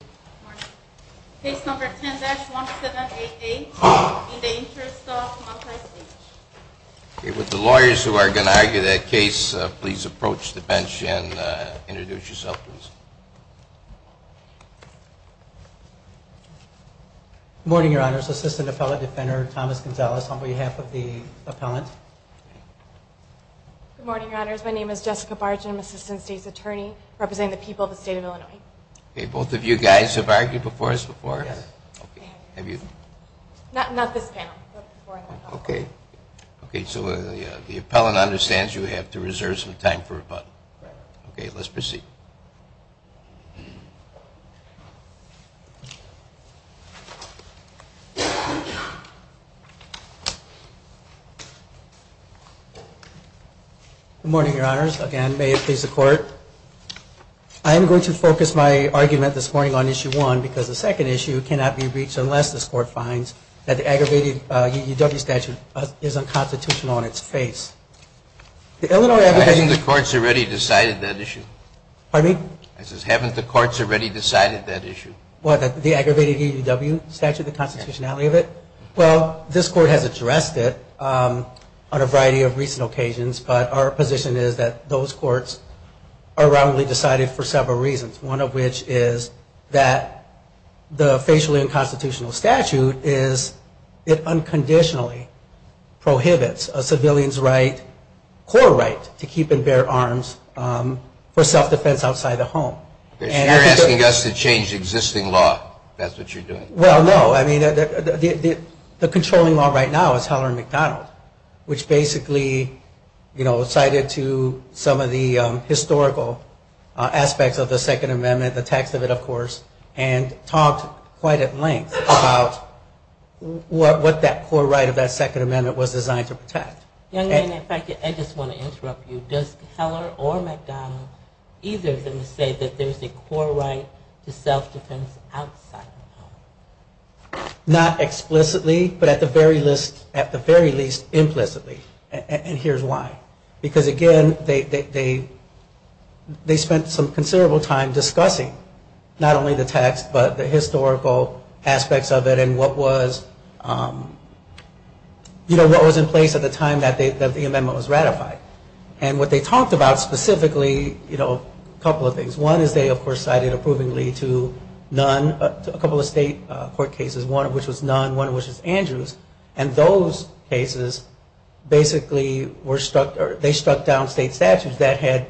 Good morning. Case number 10-1788, in the interest of Montyce H. With the lawyers who are going to argue that case, please approach the bench and introduce yourself, please. Good morning, Your Honors. Assistant Appellate Defender Thomas Gonzales on behalf of the appellant. Good morning, Your Honors. My name is Jessica Barge and I'm Assistant State's Attorney representing the people of the state of Illinois. Okay, both of you guys have argued before us before? Yes. Have you? Not this panel. Okay. Okay, so the appellant understands you have to reserve some time for rebuttal. Correct. Okay, let's proceed. Good morning, Your Honors. Again, may it please the Court. I am going to focus my argument this morning on Issue 1 because the second issue cannot be reached unless this Court finds that the aggravated EUW statute is unconstitutional in its face. The Illinois application... Haven't the courts already decided that issue? Pardon me? I said, haven't the courts already decided that issue? What, the aggravated EUW statute, the constitutionality of it? Yes. Well, this Court has addressed it on a variety of recent occasions, but our position is that those courts are wrongly decided for several reasons, one of which is that the facially unconstitutional statute is, it unconditionally prohibits a civilian's right, core right, to keep and bear arms for self-defense outside the home. You're asking us to change existing law. That's what you're doing. Well, no. I mean, the controlling law right now is Heller-McDonald, which basically, you know, cited to some of the historical aspects of the Second Amendment, the text of it, of course, and talked quite at length about what that core right of that Second Amendment was designed to protect. Young man, if I could, I just want to interrupt you. Does Heller or McDonald either of them say that there's a core right to self-defense outside the home? Not explicitly, but at the very least, implicitly. And here's why. Because again, they spent some considerable time discussing not only the text, but the amendment was ratified. And what they talked about specifically, you know, a couple of things. One is they, of course, cited approvingly to none, a couple of state court cases, one of which was none, one of which was Andrews, and those cases basically were struck, they struck down state statutes that had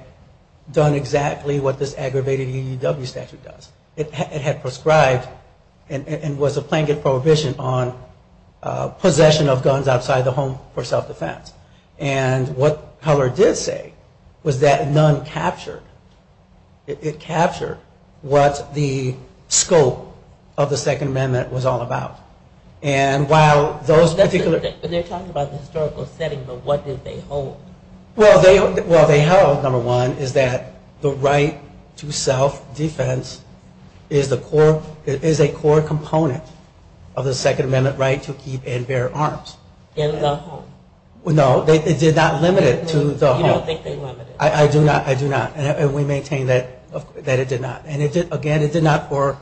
done exactly what this aggravated EUW statute does. It had prescribed and was a plaintiff prohibition on possession of guns outside the home for self-defense. And what Heller did say was that none captured, it captured what the scope of the Second Amendment was all about. And while those particular... They're talking about the historical setting, but what did they hold? Well, they held, number one, is that the right to self-defense is a core component of the Second Amendment right to keep and bear arms. In the home. No, they did not limit it to the home. You don't think they limited it. I do not. I do not. And we maintain that it did not. And again, it did not for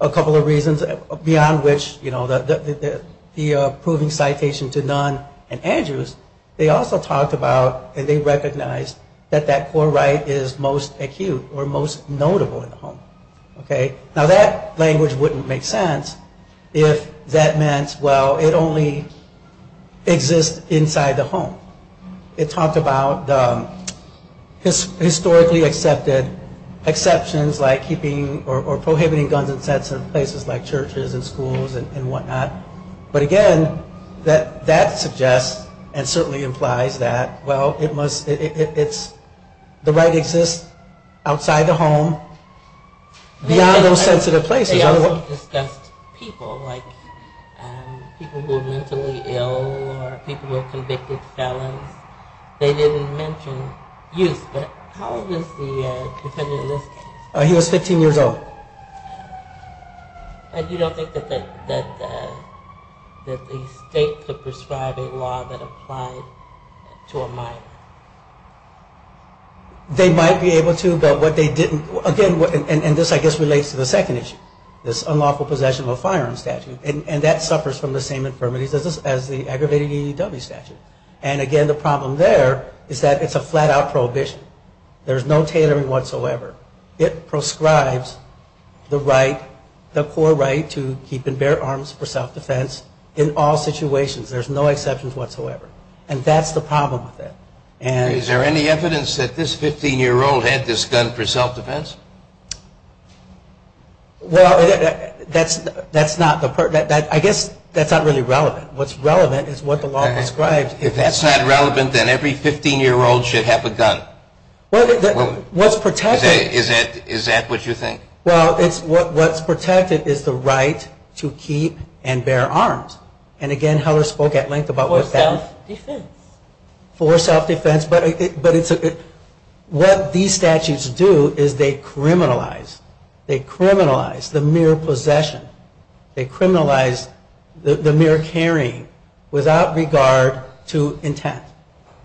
a couple of reasons beyond which, you know, the approving citation to none and Andrews, they also talked about and they recognized that that core right is most acute or most notable in the home. Now that language wouldn't make sense if that meant, well, it only exists inside the home. It talked about historically accepted exceptions like keeping or prohibiting guns in places like churches and schools and whatnot. But again, that suggests and certainly implies that, well, it's the right that exists outside the home beyond those sensitive places. They also discussed people like people who were mentally ill or people who were convicted felons. They didn't mention youth, but how old is the defendant in this case? He was 15 years old. And you don't think that the state could prescribe a law that applied to a minor? They might be able to, but what they didn't, again, and this I guess relates to the second issue, this unlawful possession of a firearm statute. And that suffers from the same infirmities as the aggravated EEW statute. And again, the problem there is that it's a flat-out prohibition. There's no tailoring whatsoever. It proscribes the right, the core right to keep and bear arms for self-defense in all situations. There's no exceptions whatsoever. And that's the problem with it. Is there any evidence that this 15-year-old had this gun for self-defense? Well, that's not the part. I guess that's not really relevant. What's relevant is what the law prescribes. If that's not relevant, then every 15-year-old should have a gun. Is that what you think? Well, what's protected is the right to keep and bear arms. And again, Heller spoke at length about that. For self-defense. For self-defense. But what these statutes do is they criminalize. They criminalize the mere possession. They criminalize the mere carrying without regard to intent.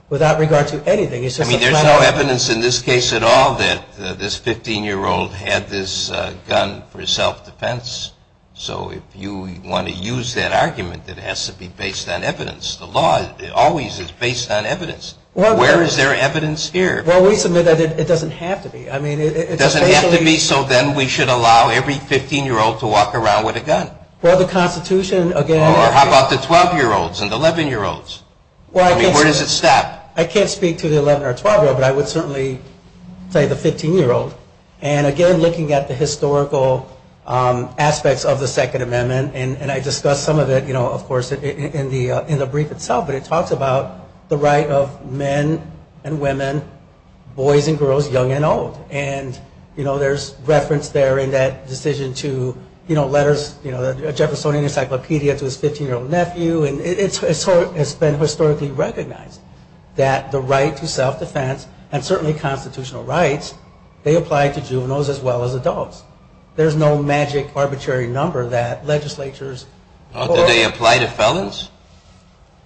Without regard to anything. I mean, there's no evidence in this case at all that this 15-year-old had this gun for self-defense. So if you want to use that argument, it has to be based on evidence. The law always is based on evidence. Where is there evidence here? Well, we submit that it doesn't have to be. It doesn't have to be so then we should allow every 15-year-old to walk around with a gun. Well, the Constitution, again. Or how about the 12-year-olds and the 11-year-olds? I mean, where does it stop? I can't speak to the 11 or 12-year-old, but I would certainly say the 15-year-old. And again, looking at the historical aspects of the Second Amendment, and I discussed some of it, you know, of course, in the brief itself, but it talks about the right of men and women, boys and girls, young and old. And, you know, there's reference there in that decision to, you know, letters, you know, the Jeffersonian Encyclopedia to his 15-year-old nephew. And it's been historically recognized that the right to self-defense and certainly constitutional rights, there's no magic arbitrary number that legislatures. Do they apply to felons?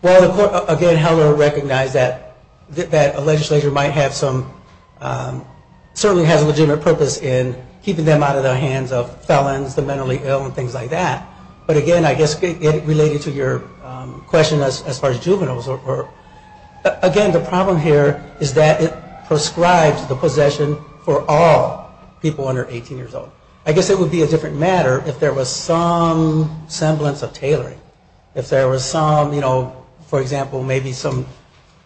Well, again, Heller recognized that a legislature might have some, certainly has a legitimate purpose in keeping them out of the hands of felons, the mentally ill and things like that. But again, I guess related to your question as far as juveniles. Again, the problem here is that it prescribes the possession for all people under 18 years old. I guess it would be a different matter if there was some semblance of tailoring, if there was some, you know, for example, maybe some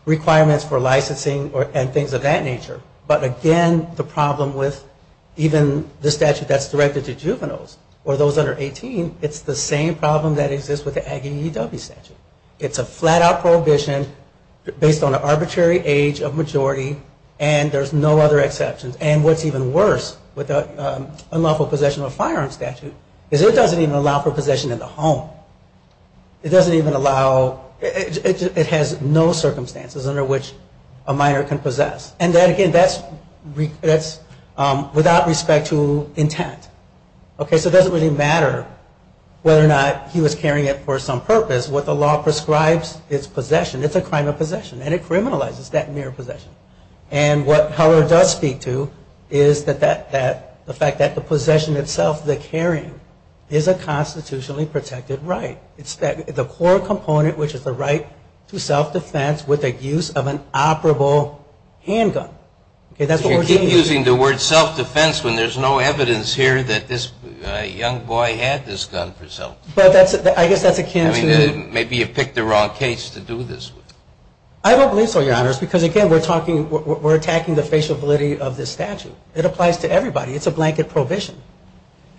requirements for licensing and things of that nature. But again, the problem with even the statute that's directed to juveniles or those under 18, it's the same problem that exists with the Aggie EW statute. It's a flat-out prohibition based on an arbitrary age of majority and there's no other exceptions. And what's even worse with the unlawful possession of a firearm statute is it doesn't even allow for possession in the home. It doesn't even allow, it has no circumstances under which a minor can possess. And again, that's without respect to intent. Okay, so it doesn't really matter whether or not he was carrying it for some purpose. What the law prescribes is possession. It's a crime of possession and it criminalizes that mere possession. And what Heller does speak to is the fact that the possession itself, the carrying, is a constitutionally protected right. It's the core component, which is the right to self-defense with the use of an operable handgun. If you keep using the word self-defense when there's no evidence here that this young boy had this gun for self-defense. I guess that's a cancer. Maybe you picked the wrong case to do this with. I don't believe so, Your Honors, because again, we're attacking the faciability of this statute. It applies to everybody. It's a blanket prohibition.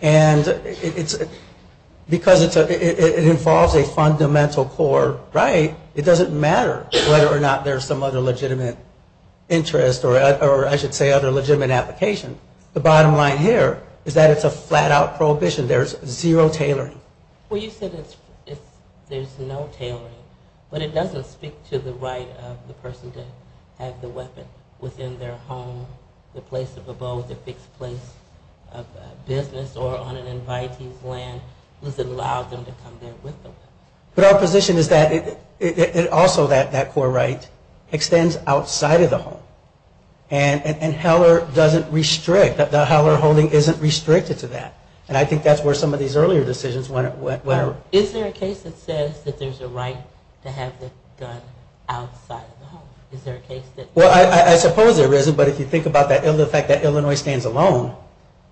And because it involves a fundamental core right, it doesn't matter whether or not there's some other legitimate interest or I should say other legitimate application, the bottom line here is that it's a flat-out prohibition. There's zero tailoring. Well, you said there's no tailoring, but it doesn't speak to the right of the person to have the weapon within their home, the place of abode, the fixed place of business or on an invitee's land. It doesn't allow them to come there with the weapon. But our position is that also that core right extends outside of the home. And Heller doesn't restrict, the Heller holding isn't restricted to that. And I think that's where some of these earlier decisions went. Is there a case that says that there's a right to have the gun outside of the home? Well, I suppose there isn't, but if you think about the fact that Illinois stands alone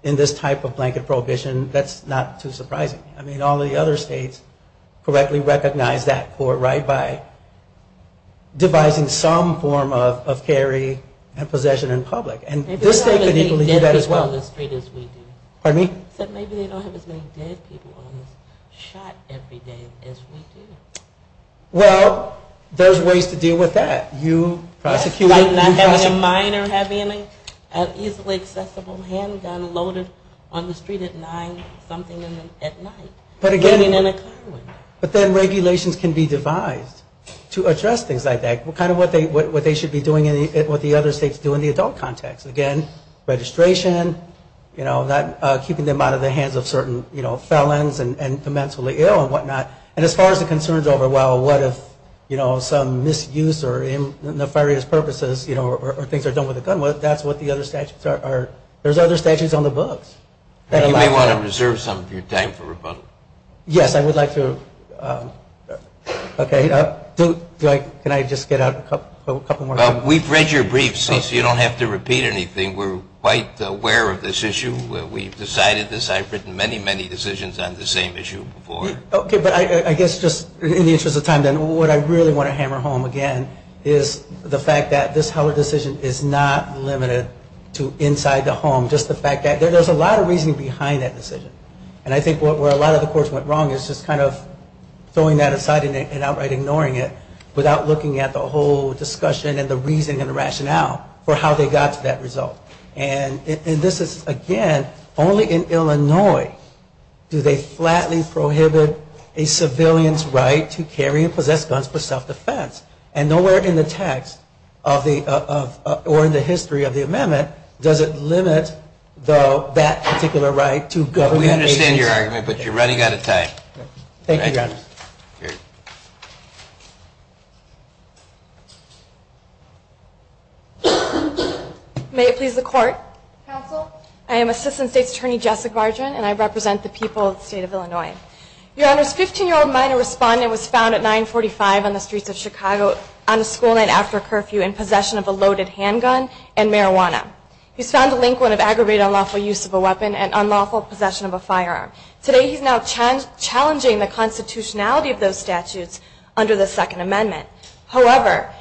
in this type of blanket prohibition, that's not too surprising. I mean, all the other states correctly recognize that core right by devising some form of carry and possession in public. And this state could equally do that as well. Maybe they don't have as many dead people on the street as we do. Pardon me? You said maybe they don't have as many dead people on the street shot every day as we do. Well, there's ways to deal with that. Not having a minor having an easily accessible handgun loaded on the street at 9 something at night. But then regulations can be devised to address things like that. Kind of what they should be doing and what the other states do in the adult context. Again, registration, keeping them out of the hands of certain felons and the mentally ill and whatnot. And as far as the concerns over, well, what if, you know, some misuse or nefarious purposes or things are done with a gun, that's what the other statutes are. There's other statutes on the books. You may want to reserve some of your time for rebuttal. Yes, I would like to. Okay. Can I just get out a couple more times? We've read your briefs, so you don't have to repeat anything. We're quite aware of this issue. We've decided this. I've written many, many decisions on the same issue before. Okay. But I guess just in the interest of time, what I really want to hammer home again is the fact that this Heller decision is not limited to inside the home, just the fact that there's a lot of reasoning behind that decision. And I think where a lot of the courts went wrong is just kind of throwing that aside and outright ignoring it without looking at the whole discussion and the reasoning and the rationale for how they got to that result. And this is, again, only in Illinois do they flatly prohibit a civilian's right to carry and possess guns for self-defense. And nowhere in the text or in the history of the amendment does it limit that particular right to government agency. We understand your argument, but you're running out of time. Thank you, Your Honor. Thank you. May it please the Court. Counsel. I am Assistant State's Attorney Jessica Vargin, and I represent the people of the state of Illinois. Your Honor's 15-year-old minor respondent was found at 945 on the streets of Chicago on a school night after a curfew in possession of a loaded handgun and marijuana. He was found delinquent of aggravated unlawful use of a weapon and unlawful possession of a firearm. Today he is now challenging the constitutionality of those statutes under the Second Amendment. However,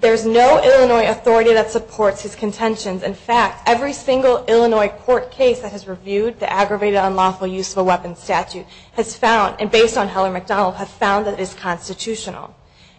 there is no Illinois authority that supports his contentions. In fact, every single Illinois court case that has reviewed the aggravated unlawful use of a weapon statute has found, and based on Heller-McDonald, has found that it is constitutional.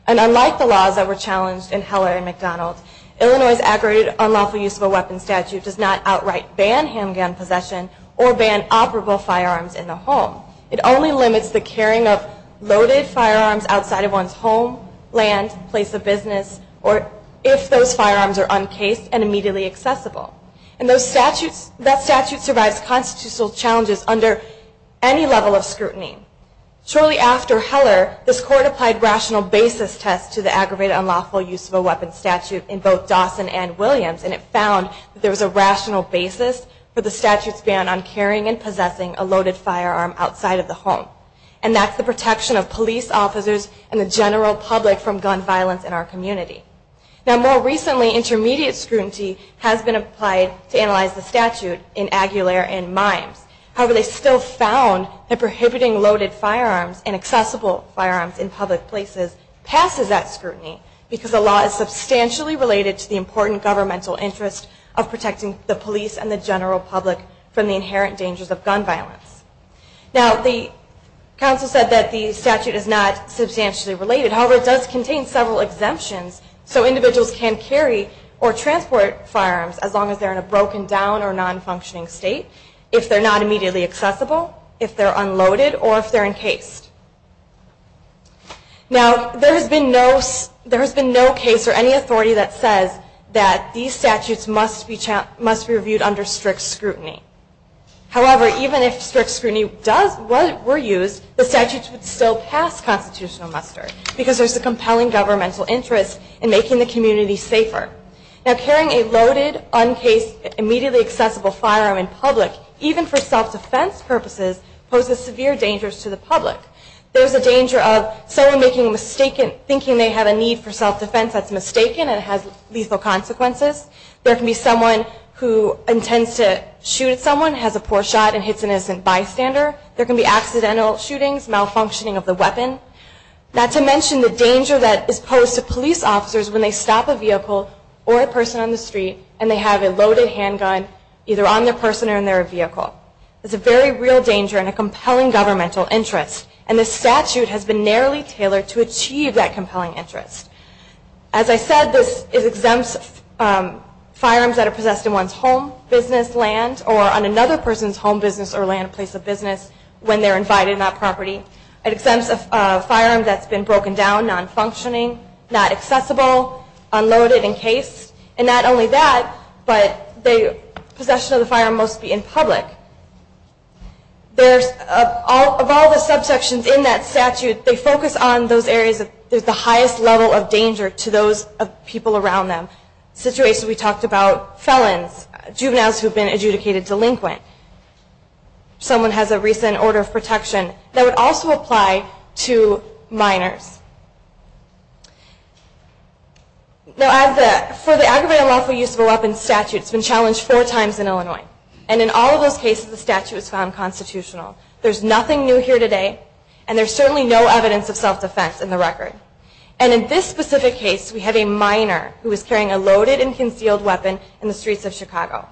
And unlike the laws that were challenged in Heller-McDonald, Illinois's aggravated unlawful use of a weapon statute does not outright ban handgun possession or ban operable firearms in the home. It only limits the carrying of loaded firearms outside of one's home, land, place of business, or if those firearms are uncased and immediately accessible. And that statute survives constitutional challenges under any level of scrutiny. Shortly after Heller, this Court applied rational basis tests to the aggravated unlawful use of a weapon statute in both Dawson and Williams, and it found that there was a rational basis for the statute's ban on carrying and possessing a loaded firearm outside of the home. And that's the protection of police officers and the general public from gun violence in our community. Now more recently, intermediate scrutiny has been applied to analyze the statute in Aguilar and Mimes. However, they still found that prohibiting loaded firearms and accessible firearms in public places passes that scrutiny because the law is substantially related to the important governmental interest of protecting the police and the general public from the inherent dangers of gun violence. Now the counsel said that the statute is not substantially related. However, it does contain several exemptions so individuals can carry or transport firearms as long as they're in a broken down or non-functioning state, if they're not immediately accessible, if they're unloaded, or if they're encased. Now there has been no case or any authority that says that these statutes must be reviewed under strict scrutiny. However, even if strict scrutiny were used, the statutes would still pass constitutional muster because there's a compelling governmental interest in making the community safer. Now carrying a loaded, uncased, immediately accessible firearm in public, even for self-defense purposes, poses severe dangers to the public. There's a danger of someone thinking they have a need for self-defense that's mistaken and has lethal consequences. There can be someone who intends to shoot someone, has a poor shot, and hits an innocent bystander. There can be accidental shootings, malfunctioning of the weapon. Not to mention the danger that is posed to police officers when they stop a vehicle or a person on the street and they have a loaded handgun either on the person or in their vehicle. It's a very real danger and a compelling governmental interest. And this statute has been narrowly tailored to achieve that compelling interest. As I said, this exempts firearms that are possessed in one's home, business, land, or on another person's home, business, or land place of business when they're invited, not property. It exempts a firearm that's been broken down, non-functioning, not accessible, unloaded, encased. And not only that, but the possession of the firearm must be in public. Of all the subsections in that statute, they focus on those areas of the highest level of danger to those people around them. Situations we talked about, felons, juveniles who have been adjudicated delinquent. Someone has a recent order of protection that would also apply to minors. For the aggravated unlawful use of a weapon statute, it's been challenged four times in Illinois. And in all of those cases, the statute is found constitutional. There's nothing new here today, and there's certainly no evidence of self-defense in the record. And in this specific case, we have a minor who is carrying a loaded and concealed weapon in the streets of Chicago.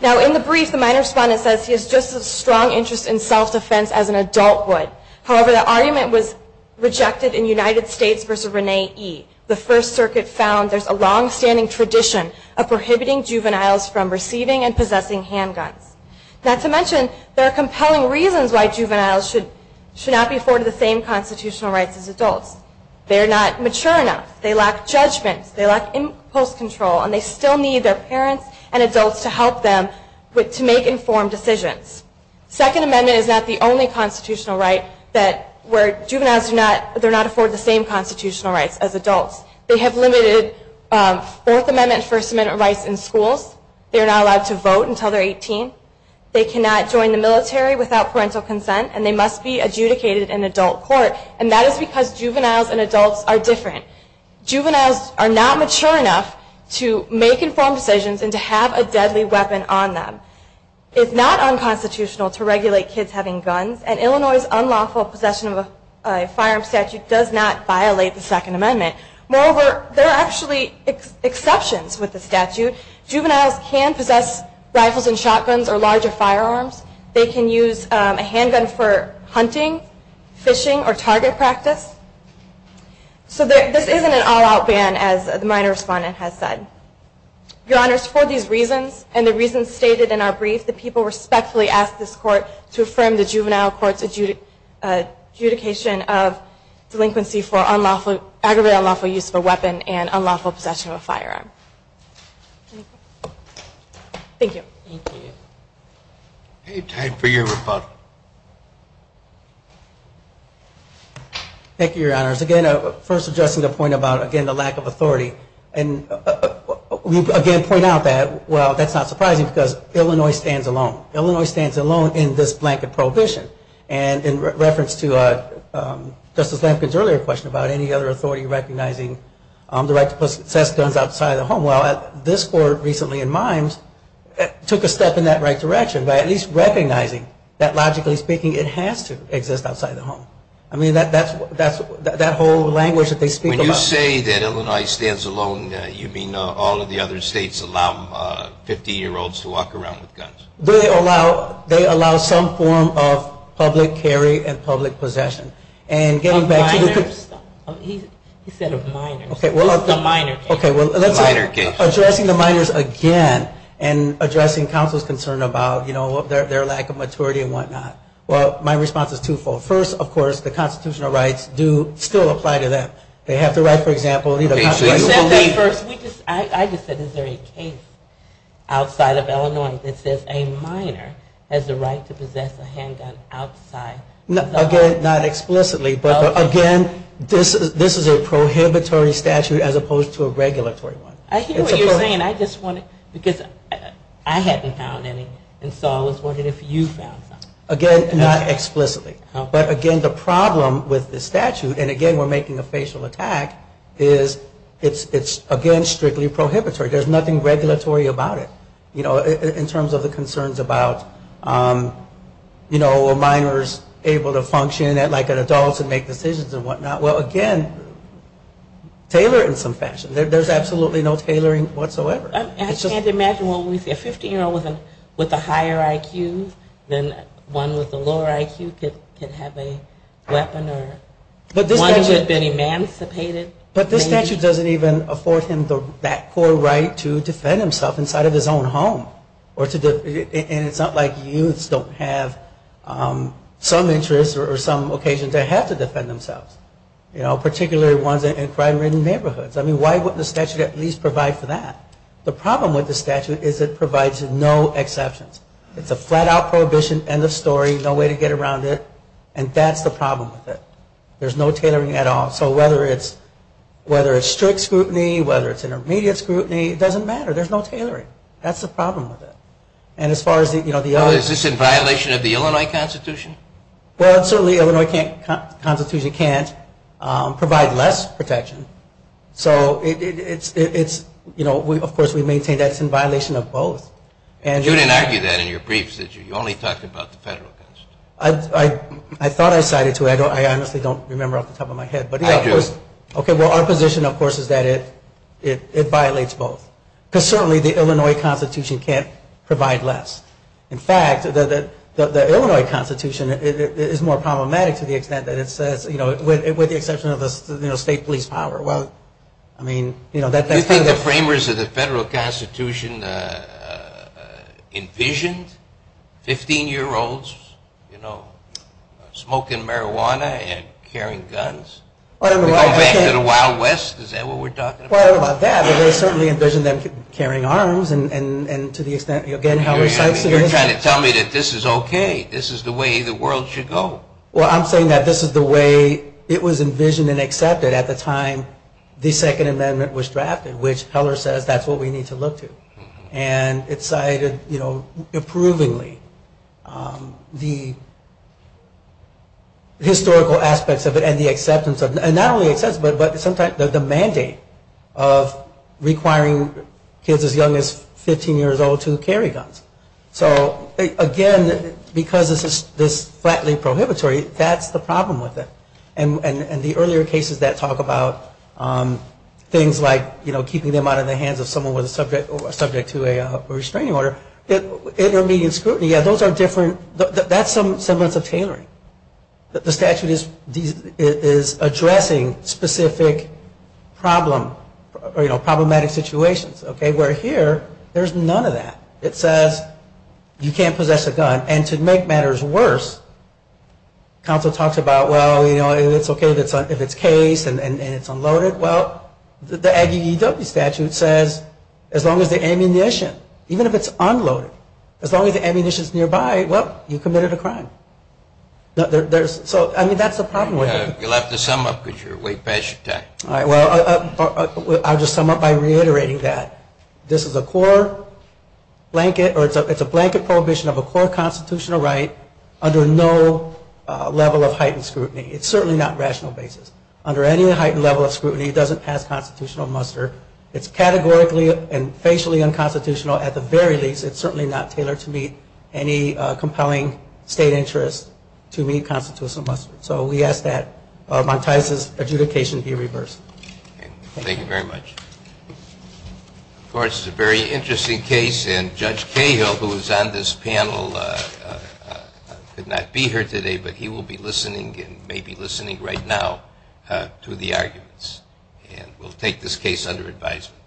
Now, in the brief, the minor's respondent says he has just as strong interest in self-defense as an adult would. However, the argument was rejected in United States v. Rene E. The First Circuit found there's a long-standing tradition of prohibiting juveniles from receiving and possessing handguns. Not to mention, there are compelling reasons why juveniles should not be afforded the same constitutional rights as adults. They're not mature enough, they lack judgment, they lack impulse control, and they still need their parents and adults to help them to make informed decisions. Second Amendment is not the only constitutional right where juveniles do not afford the same constitutional rights as adults. They have limited Fourth Amendment and First Amendment rights in schools. They are not allowed to vote until they're 18. They cannot join the military without parental consent, and they must be adjudicated in adult court. And that is because juveniles and adults are different. Juveniles are not mature enough to make informed decisions and to have a deadly weapon on them. It's not unconstitutional to regulate kids having guns, and Illinois' unlawful possession of a firearms statute does not violate the Second Amendment. Moreover, there are actually exceptions with the statute. Juveniles can possess rifles and shotguns or larger firearms. They can use a handgun for hunting, fishing, or target practice. So this isn't an all-out ban, as my respondent has said. Your Honors, for these reasons, and the reasons stated in our brief, the people respectfully ask this Court to affirm the Juvenile Court's adjudication of delinquency for aggravated unlawful use of a weapon and unlawful possession of a firearm. Thank you. Thank you. Any time for your rebuttal. Thank you, Your Honors. Again, first addressing the point about, again, the lack of authority. And we again point out that, well, that's not surprising, because Illinois stands alone. Illinois stands alone in this blanket prohibition. And in reference to Justice Lamkin's earlier question about any other authority recognizing the right to possess guns outside of the home, well, this Court recently in Mimes took a step in that right direction by at least recognizing that, logically speaking, it has to exist outside the home. I mean, that whole language that they speak about. When you say that Illinois stands alone, you mean all of the other states allow 15-year-olds to walk around with guns? They allow some form of public carry and public possession. He said of minors. Okay, well, let's say addressing the minors again and addressing counsel's concern about, you know, their lack of maturity and whatnot. Well, my response is twofold. First, of course, the constitutional rights do still apply to them. They have to write, for example, I just said is there a case outside of Illinois that says a minor has the right to possess a handgun outside? Again, not explicitly, but again, this is a prohibitory statute as opposed to a regulatory one. I hear what you're saying. Because I haven't found any, and so I was wondering if you found some. Again, not explicitly. But again, the problem with the statute, and again, we're making a facial attack, is it's, again, strictly prohibitory. There's nothing regulatory about it. You know, in terms of the concerns about, you know, are minors able to function like adults and make decisions and whatnot? Well, again, tailor it in some fashion. There's absolutely no tailoring whatsoever. I can't imagine a 15-year-old with a higher IQ than one with a lower IQ could have a weapon or one who had been emancipated. But this statute doesn't even afford him that poor right to defend himself inside of his own home. And it's not like youths don't have some interest or some occasion to have to defend themselves. You know, particularly ones in crime-ridden neighborhoods. I mean, why wouldn't the statute at least provide for that? The problem with the statute is it provides no exceptions. It's a flat-out prohibition, end of story, no way to get around it. And that's the problem with it. There's no tailoring at all. So whether it's strict scrutiny, whether it's intermediate scrutiny, it doesn't matter. There's no tailoring. That's the problem with it. And as far as the other... Oh, is this in violation of the Illinois Constitution? Well, certainly the Illinois Constitution can't provide less protection. So it's, you know, of course we maintain that it's in violation of both. You didn't argue that in your briefs, did you? You only talked about the federal constitution. I thought I cited two. I honestly don't remember off the top of my head. I do. Okay, well, our position, of course, is that it violates both. Because certainly the Illinois Constitution can't provide less. In fact, the Illinois Constitution is more problematic to the extent that it says, you know, with the exception of the state police power. Well, I mean, you know... Do you think the framers of the federal constitution envisioned 15-year-olds, you know, smoking marijuana and carrying guns? Going back to the Wild West, is that what we're talking about? Well, I don't know about that, but they certainly envisioned them carrying arms. And to the extent, again, Heller cites... You're trying to tell me that this is okay. This is the way the world should go. Well, I'm saying that this is the way it was envisioned and accepted at the time the Second Amendment was drafted, which Heller says that's what we need to look to. And it cited, you know, approvingly, the historical aspects of it and the acceptance of it. And not only acceptance, but the mandate of requiring kids as young as 15 years old to carry guns. So, again, because this is flatly prohibitory, that's the problem with it. And the earlier cases that talk about things like, you know, keeping them out of the hands of someone who was subject to a restraining order. Intermediate scrutiny. Yeah, those are different. That's some semblance of tailoring. The statute is addressing specific problematic situations. Okay? Where here, there's none of that. It says you can't possess a gun. And to make matters worse, counsel talks about, well, you know, it's okay if it's case and it's unloaded. Well, the Aggie EW statute says as long as the ammunition, even if it's unloaded, as long as the ammunition is nearby, well, you committed a crime. So, I mean, that's the problem with it. You'll have to sum up because you're way past your time. All right. Well, I'll just sum up by reiterating that. This is a core blanket, or it's a blanket prohibition of a core constitutional right under no level of heightened scrutiny. It's certainly not rational basis. Under any heightened level of scrutiny, it doesn't pass constitutional muster. It's categorically and facially unconstitutional at the very least. It's certainly not tailored to meet any compelling state interest to meet constitutional muster. So we ask that Montez's adjudication be reversed. Okay. Thank you very much. Of course, it's a very interesting case. And Judge Cahill, who is on this panel, could not be here today, but he will be listening and may be listening right now to the arguments. And we'll take this case under advisement.